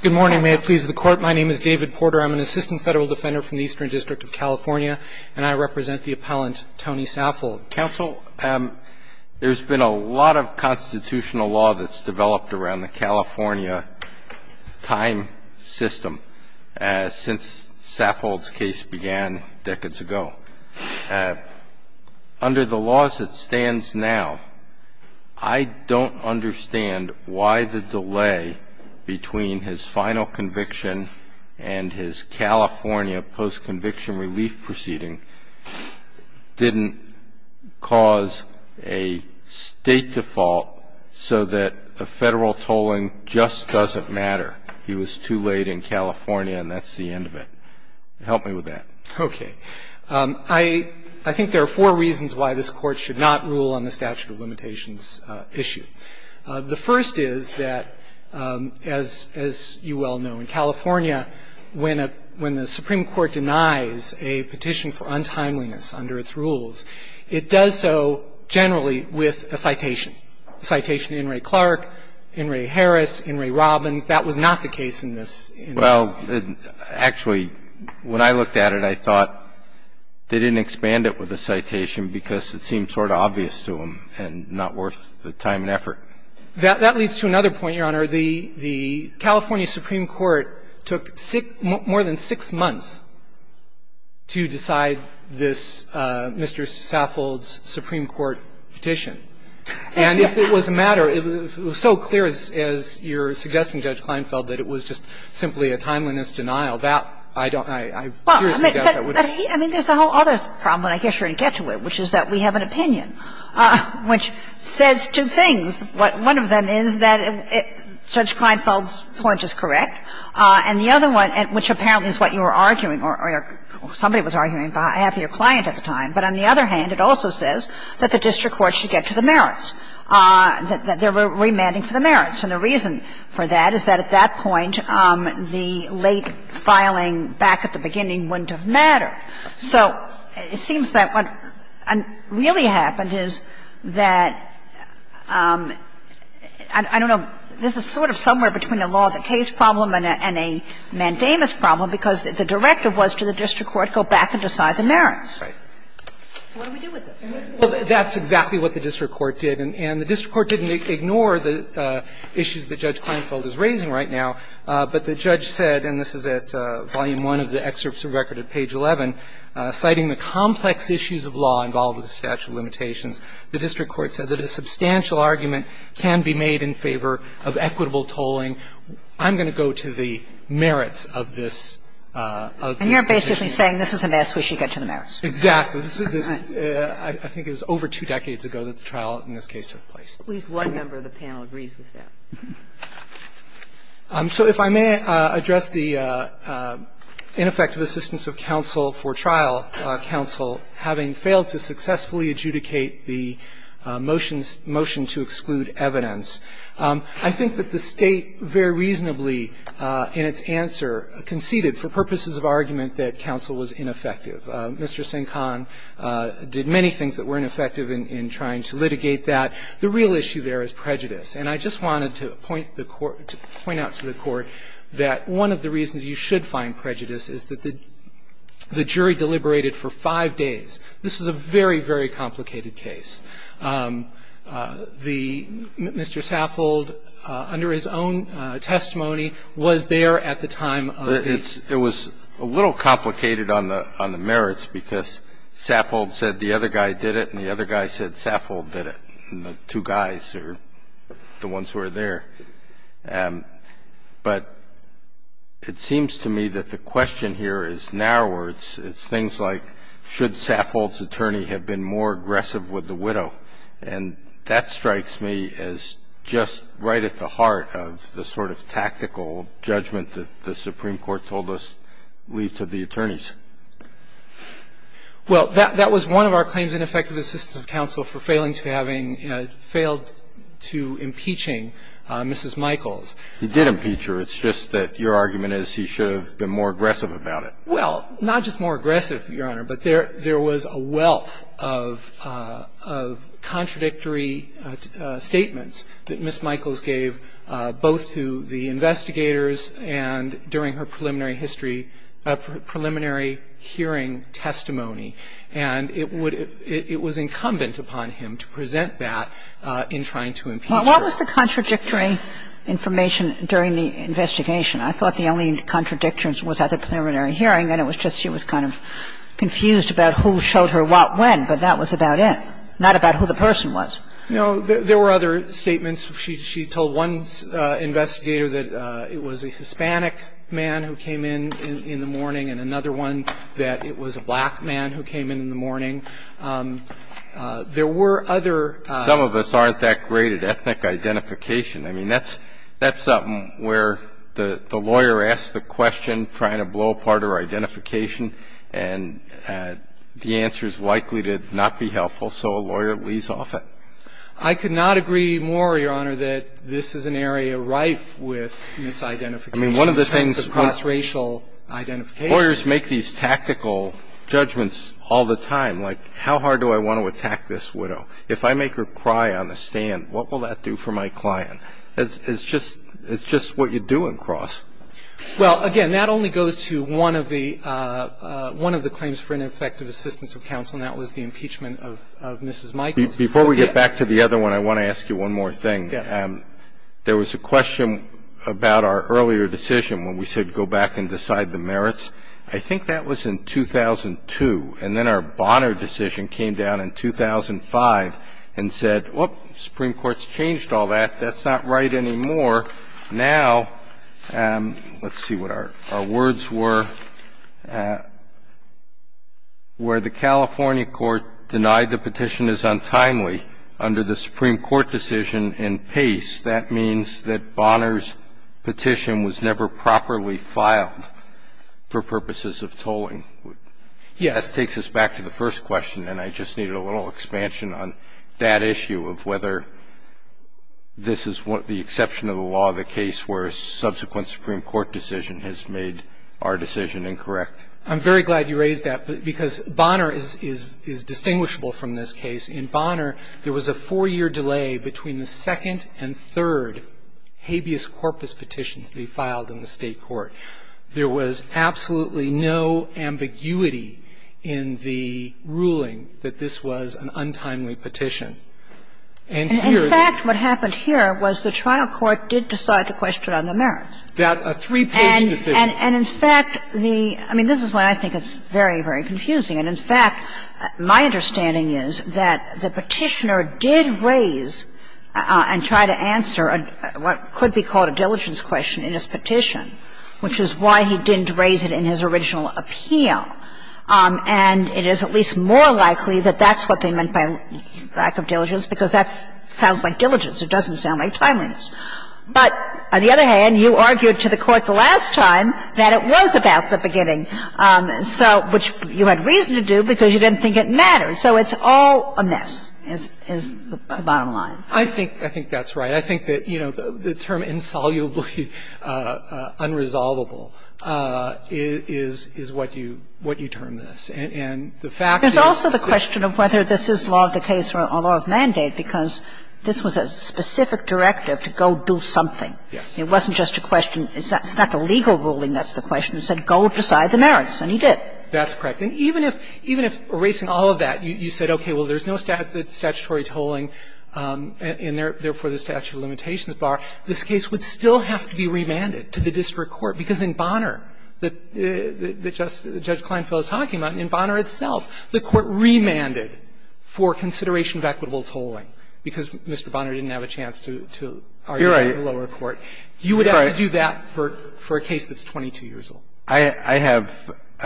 Good morning, may it please the court. My name is David Porter. I'm an assistant federal defender from the Eastern District of California, and I represent the appellant Tony Saffold. Counsel, there's been a lot of constitutional law that's developed around the California time system since Saffold's case began decades ago. Under the laws that stands now, I don't understand why the delay between his final conviction and his California post-conviction relief proceeding didn't cause a state default so that federal tolling just doesn't matter. He was too late in California, and that's the end of it. Help me with that. Okay. I think there are four reasons why this Court should not rule on the statute of limitations issue. The first is that, as you well know, in California, when a — when the Supreme Court denies a petition for untimeliness under its rules, it does so generally with a citation, a citation to Inouye Clark, Inouye Harris, Inouye Robbins. That was not the case in this — in this case. Actually, when I looked at it, I thought they didn't expand it with a citation because it seemed sort of obvious to them and not worth the time and effort. That leads to another point, Your Honor. The California Supreme Court took six — more than six months to decide this Mr. Saffold's Supreme Court petition. And if it was a matter — it was so clear, as you're suggesting, Judge Kleinfeld, that it was just simply a timeliness denial, that I don't — I seriously doubt that would have been the case. Well, but he — I mean, there's a whole other problem, and I guess you're going to get to it, which is that we have an opinion which says two things. One of them is that Judge Kleinfeld's point is correct, and the other one, which apparently is what you were arguing or somebody was arguing on behalf of your client at the time, but on the other hand, it also says that the district court should get to the merits, that they were remanding for the merits. And the reason for that is that at that point, the late filing back at the beginning wouldn't have mattered. So it seems that what really happened is that — I don't know. This is sort of somewhere between a law-of-the-case problem and a mandamus problem because the directive was to the district court go back and decide the merits. So what do we do with this? Well, that's exactly what the district court did, and the district court didn't ignore the issues that Judge Kleinfeld is raising right now. But the judge said, and this is at volume one of the excerpts of record at page 11, citing the complex issues of law involved with the statute of limitations, the district court said that a substantial argument can be made in favor of equitable tolling. I'm going to go to the merits of this. And you're basically saying this is a mess. We should get to the merits. Exactly. I think it was over two decades ago that the trial in this case took place. At least one member of the panel agrees with that. So if I may address the ineffective assistance of counsel for trial, counsel having failed to successfully adjudicate the motion to exclude evidence, I think that the State very reasonably in its answer conceded for purposes of argument that counsel was ineffective. Mr. Sinkhan did many things that were ineffective in trying to litigate that. The real issue there is prejudice. And I just wanted to point out to the Court that one of the reasons you should find prejudice is that the jury deliberated for five days. This is a very, very complicated case. The Mr. Saffold, under his own testimony, was there at the time of the case. It was a little complicated on the merits because Saffold said the other guy did it and the other guy said Saffold did it, and the two guys are the ones who are there. But it seems to me that the question here is narrower. It's things like should Saffold's attorney have been more aggressive with the widow. And that strikes me as just right at the heart of the sort of tactical judgment that the Supreme Court told us leave to the attorneys. Well, that was one of our claims in effective assistance of counsel for failing to having failed to impeaching Mrs. Michaels. He did impeach her. It's just that your argument is he should have been more aggressive about it. Well, not just more aggressive, Your Honor, but there was a wealth of contradictory statements that Mrs. Michaels gave both to the investigators and during her preliminary history of preliminary hearing testimony, and it would – it was incumbent upon him to present that in trying to impeach her. What was the contradictory information during the investigation? I thought the only contradiction was at the preliminary hearing, that it was just she was kind of confused about who showed her what when, but that was about it, not about who the person was. No, there were other statements. She told one investigator that it was a Hispanic man who came in in the morning and another one that it was a black man who came in in the morning. There were other – Some of us aren't that great at ethnic identification. I mean, that's something where the lawyer asks the question, trying to blow apart her identification, and the answer is likely to not be helpful, so a lawyer leaves off it. I could not agree more, Your Honor, that this is an area rife with misidentification in terms of cross-racial identification. Lawyers make these tactical judgments all the time, like how hard do I want to attack this widow? If I make her cry on the stand, what will that do for my client? It's just what you do in cross. Well, again, that only goes to one of the claims for ineffective assistance of counsel, and that was the impeachment of Mrs. Michaels. Before we get back to the other one, I want to ask you one more thing. Yes. There was a question about our earlier decision when we said go back and decide the merits. I think that was in 2002, and then our Bonner decision came down in 2005 and said, well, the Supreme Court's changed all that. That's not right anymore. Now, let's see what our words were. Where the California court denied the petition is untimely under the Supreme Court decision in Pace, that means that Bonner's petition was never properly filed for purposes of tolling. Yes. That takes us back to the first question, and I just needed a little expansion on that issue of whether this is the exception of the law of the case where a subsequent Supreme Court decision has made our decision incorrect. I'm very glad you raised that, because Bonner is distinguishable from this case. In Bonner, there was a four-year delay between the second and third habeas corpus petitions that he filed in the State court. There was absolutely no ambiguity in the ruling that this was an untimely petition. And here they are. In fact, what happened here was the trial court did decide the question on the merits. That a three-page decision. And in fact, the – I mean, this is why I think it's very, very confusing. And in fact, my understanding is that the Petitioner did raise and try to answer what could be called a diligence question in his petition, which is why he didn't raise it in his original appeal. And it is at least more likely that that's what they meant by lack of diligence, because that sounds like diligence. It doesn't sound like timeliness. But on the other hand, you argued to the Court the last time that it was about the beginning, so – which you had reason to do because you didn't think it mattered. So it's all a mess, is the bottom line. I think – I think that's right. I think that, you know, the term insolubly unresolvable is what you – what you term this. And the fact is – It's also the question of whether this is law of the case or law of mandate, because this was a specific directive to go do something. Yes. It wasn't just a question. It's not the legal ruling that's the question. It said go decide the merits, and he did. That's correct. And even if – even if, erasing all of that, you said, okay, well, there's no statutory tolling, and therefore the statute of limitations bar, this case would still have to be remanded to the district court. Because in Bonner, that Judge Kleinfeld is talking about, in Bonner itself, the Court remanded for consideration of equitable tolling because Mr. Bonner didn't have a chance to argue with the lower court. You're right. You would have to do that for a case that's 22 years old. I have –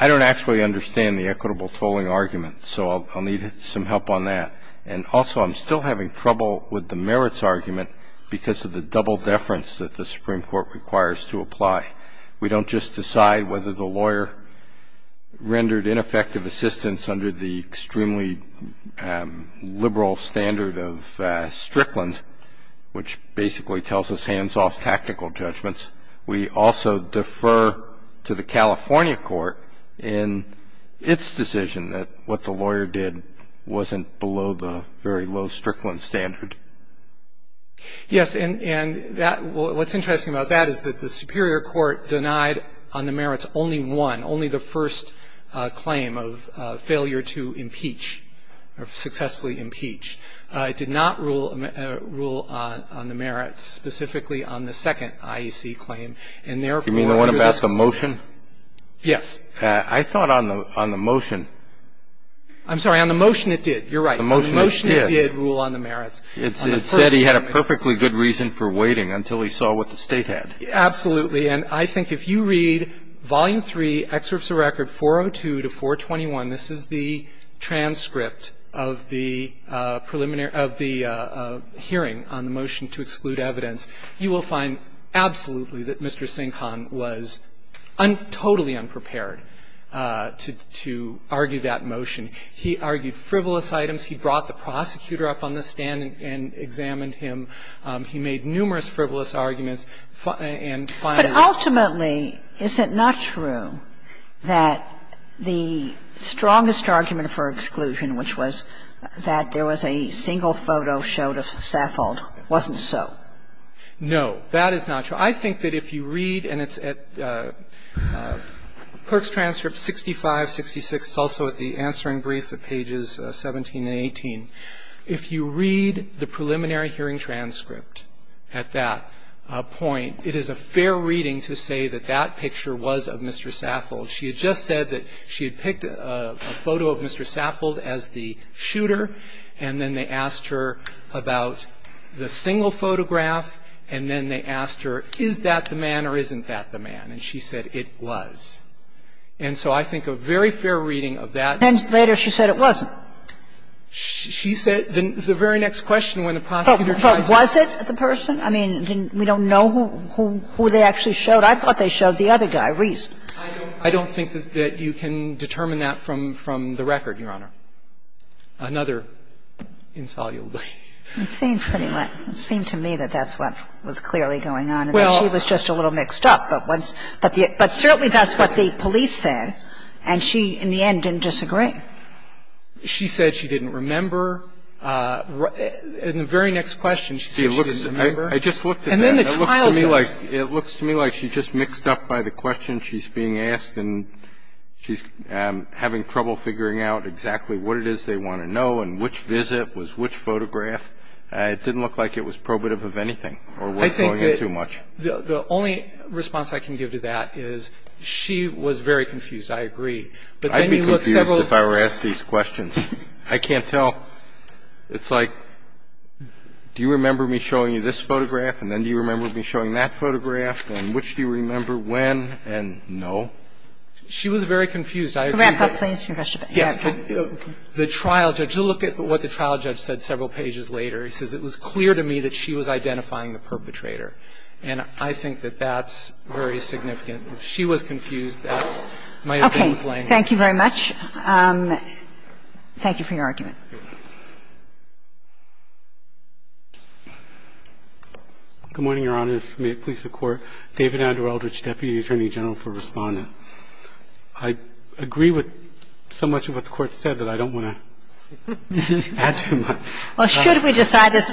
I don't actually understand the equitable tolling argument, so I'll need some help on that. And also, I'm still having trouble with the merits argument because of the double deference that the Supreme Court requires to apply. We don't just decide whether the lawyer rendered ineffective assistance under the extremely liberal standard of Strickland, which basically tells us hands-off tactical judgments. We also defer to the California court in its decision that what the lawyer did wasn't below the very low Strickland standard. Yes. And that – what's interesting about that is that the Superior Court denied on the merits only one, only the first claim of failure to impeach or successfully impeach. It did not rule on the merits, specifically on the second IEC claim. And therefore, under the – Do you mean the one about the motion? Yes. I thought on the motion – I'm sorry. On the motion, it did. You're right. The motion, it did. The motion, it did rule on the merits. It said he had a perfectly good reason for waiting until he saw what the State had. Absolutely. And I think if you read Volume 3, Excerpts of Record 402 to 421, this is the transcript of the preliminary – of the hearing on the motion to exclude evidence. You will find absolutely that Mr. Sinkhon was totally unprepared to argue that motion. He argued frivolous items. He brought the prosecutor up on the stand and examined him. He made numerous frivolous arguments. And finally – But ultimately, is it not true that the strongest argument for exclusion, which was that there was a single photo showed of Saffold, wasn't so? No. That is not true. I think that if you read – and it's at – Kirk's transcript, 6566. It's also at the answering brief at pages 17 and 18. If you read the preliminary hearing transcript at that point, it is a fair reading to say that that picture was of Mr. Saffold. She had just said that she had picked a photo of Mr. Saffold as the shooter, and then they asked her about the single photograph, and then they asked her, is that the man or isn't that the man? And she said it was. And so I think a very fair reading of that – And later she said it wasn't. She said – the very next question when the prosecutor tried to – But was it the person? I mean, we don't know who they actually showed. I thought they showed the other guy reason. I don't think that you can determine that from the record, Your Honor. Another insolubly. It seemed to me that that's what was clearly going on. She was just a little mixed up. But certainly that's what the police said, and she in the end didn't disagree. She said she didn't remember. In the very next question, she said she didn't remember. I just looked at that, and it looks to me like she's just mixed up by the question she's being asked and she's having trouble figuring out exactly what it is they want to know and which visit was which photograph. It didn't look like it was probative of anything or was going in too much. The only response I can give to that is she was very confused. I agree. I'd be confused if I were asked these questions. I can't tell. It's like, do you remember me showing you this photograph? And then do you remember me showing that photograph? And which do you remember when? And no. She was very confused. I agree that the trial judge to look at what the trial judge said several pages later. He says it was clear to me that she was identifying the perpetrator. And I think that that's very significant. If she was confused, that's my opinion. Okay. Thank you very much. Thank you for your argument. Good morning, Your Honors. May it please the Court. David Andrew Eldridge, Deputy Attorney General for Respondent. I agree with so much of what the Court said that I don't want to add too much. Well, should we decide this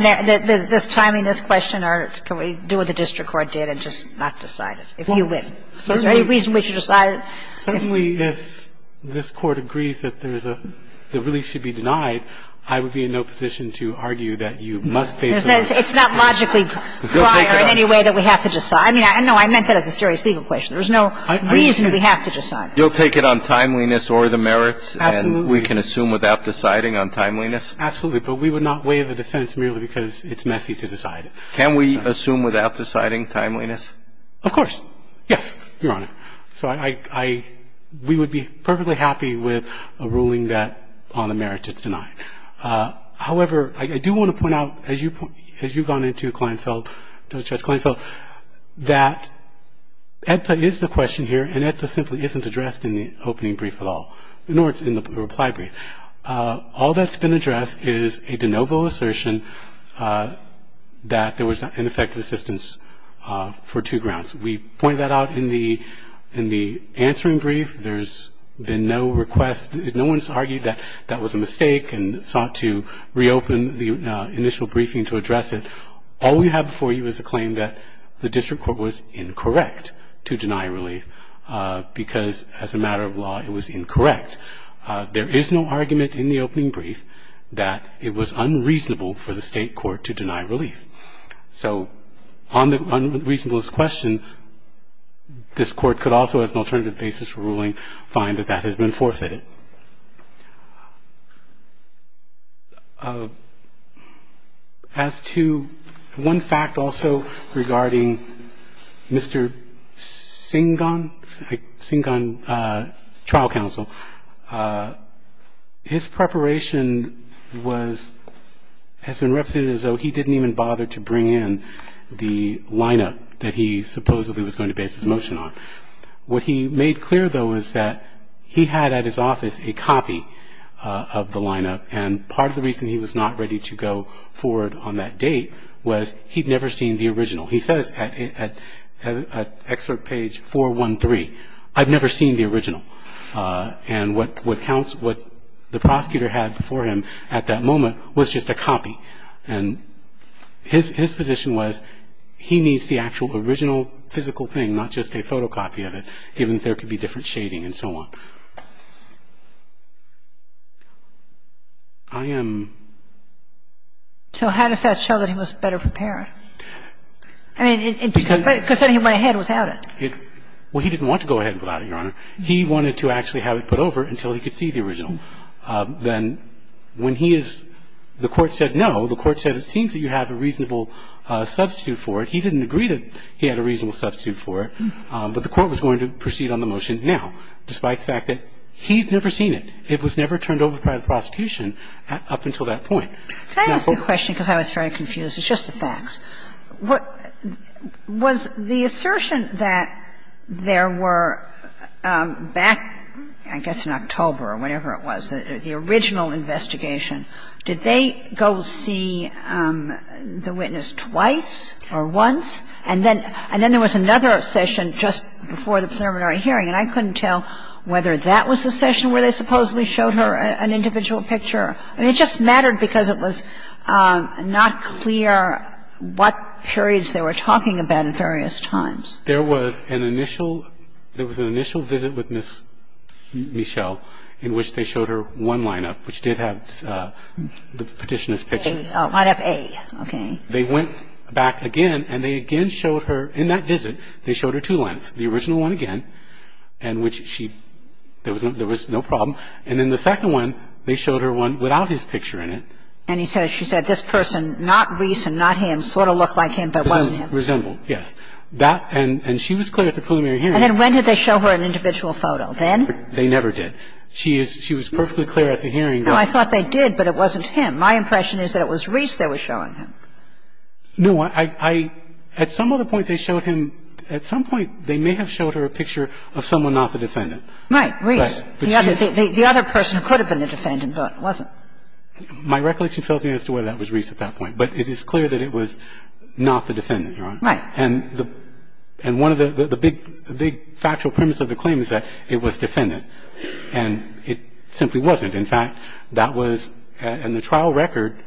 timing, this question, or can we do what the district court did and just not decide it? If you win. Is there any reason we should decide it? Certainly, if this Court agrees that there's a – that relief should be denied, I would be in no position to argue that you must basically – It's not logically prior in any way that we have to decide. I mean, no, I meant that as a serious legal question. There's no reason we have to decide. You'll take it on timeliness or the merits? Absolutely. And we can assume without deciding on timeliness? Absolutely. But we would not waive a defense merely because it's messy to decide. Can we assume without deciding timeliness? Of course. Yes, Your Honor. So I – we would be perfectly happy with a ruling that on the merits it's denied. However, I do want to point out as you've gone into Kleinfeld – Judge Kleinfeld that EDPA is the question here and EDPA simply isn't addressed in the opening brief at all, nor is it in the reply brief. All that's been addressed is a de novo assertion that there was ineffective assistance for two grounds. We point that out in the answering brief. There's been no request – no one's argued that that was a mistake and sought to reopen the initial briefing to address it. All we have before you is a claim that the district court was incorrect to deny relief because as a matter of law it was incorrect. There is no argument in the opening brief that it was unreasonable for the state court to deny relief. So on the reasonableness question, this court could also as an alternative basis for ruling find that that has been forfeited. As to one fact also regarding Mr. Singan, Singan trial counsel, his preparation was – has been represented as though he didn't even bother to bring in the lineup that he supposedly was going to base his motion on. What he made clear, though, is that he had at his office a copy of the lineup and part of the reason he was not ready to go forward on that date was he'd never seen the original. He says at excerpt page 413, I've never seen the original. And what the prosecutor had before him at that moment was just a copy. And his position was he needs the actual original physical thing, not just a photocopy of it, even if there could be different shading and so on. I am – So how does that show that he was better prepared? I mean, because then he went ahead without it. Well, he didn't want to go ahead without it, Your Honor. He wanted to actually have it put over until he could see the original. Then when he is – the Court said no. The Court said it seems that you have a reasonable substitute for it. He didn't agree that he had a reasonable substitute for it. But the Court was going to proceed on the motion now, despite the fact that he'd never seen it. It was never turned over by the prosecution up until that point. Can I ask a question because I was very confused? It's just a fax. Was the assertion that there were back, I guess in October or whenever it was, the original investigation, did they go see the witness twice or once? And then there was another session just before the preliminary hearing, and I couldn't tell whether that was the session where they supposedly showed her an individual picture. I mean, it just mattered because it was not clear what periods they were talking about at various times. There was an initial – there was an initial visit with Ms. Michelle in which they showed her one line-up, which did have the Petitioner's picture. Line-up A. Okay. They went back again, and they again showed her – in that visit, they showed her two lines. The original one again, in which she – there was no problem. And then the second one, they showed her one without his picture in it. And he said – she said, this person, not Reese and not him, sort of looked like him but wasn't him. Resembled, yes. That – and she was clear at the preliminary hearing. And then when did they show her an individual photo? Then? They never did. She is – she was perfectly clear at the hearing. Now, I thought they did, but it wasn't him. My impression is that it was Reese they were showing him. No. I – at some other point, they showed him – at some point, they may have showed her a picture of someone not the defendant. Right. Reese. The other – the other person who could have been the defendant, but wasn't. My recollection fails me as to whether that was Reese at that point. But it is clear that it was not the defendant, Your Honor. Right. And the – and one of the – the big – the big factual premise of the claim is that it was defendant. And it simply wasn't. In fact, that was – in the trial record,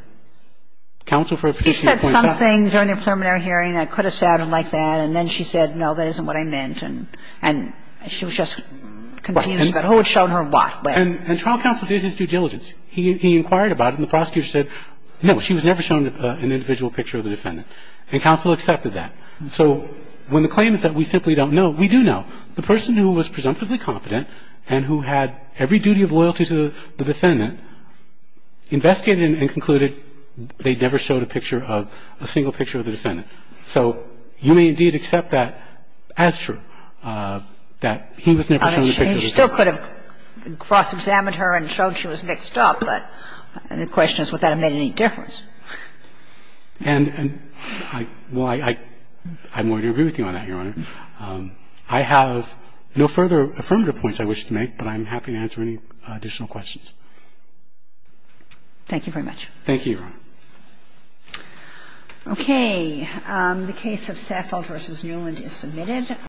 counsel for a petitioner pointed out – She said something during the preliminary hearing that could have sounded like that, and then she said, no, that isn't what I meant. And she was just confused about who had shown her what. And trial counsel did his due diligence. He inquired about it, and the prosecutor said, no, she was never shown an individual picture of the defendant. And counsel accepted that. So when the claim is that we simply don't know, we do know. The person who was presumptively competent and who had every duty of loyalty to the defendant investigated and concluded they never showed a picture of – a single picture of the defendant. So you may indeed accept that as true, that he was never shown a picture of the defendant. He still could have cross-examined her and shown she was mixed up, but the question is would that have made any difference. And I – well, I'm willing to agree with you on that, Your Honor. I have no further affirmative points I wish to make, but I'm happy to answer any additional questions. Thank you very much. Thank you, Your Honor. Okay. The case of Saffold v. Newland is submitted.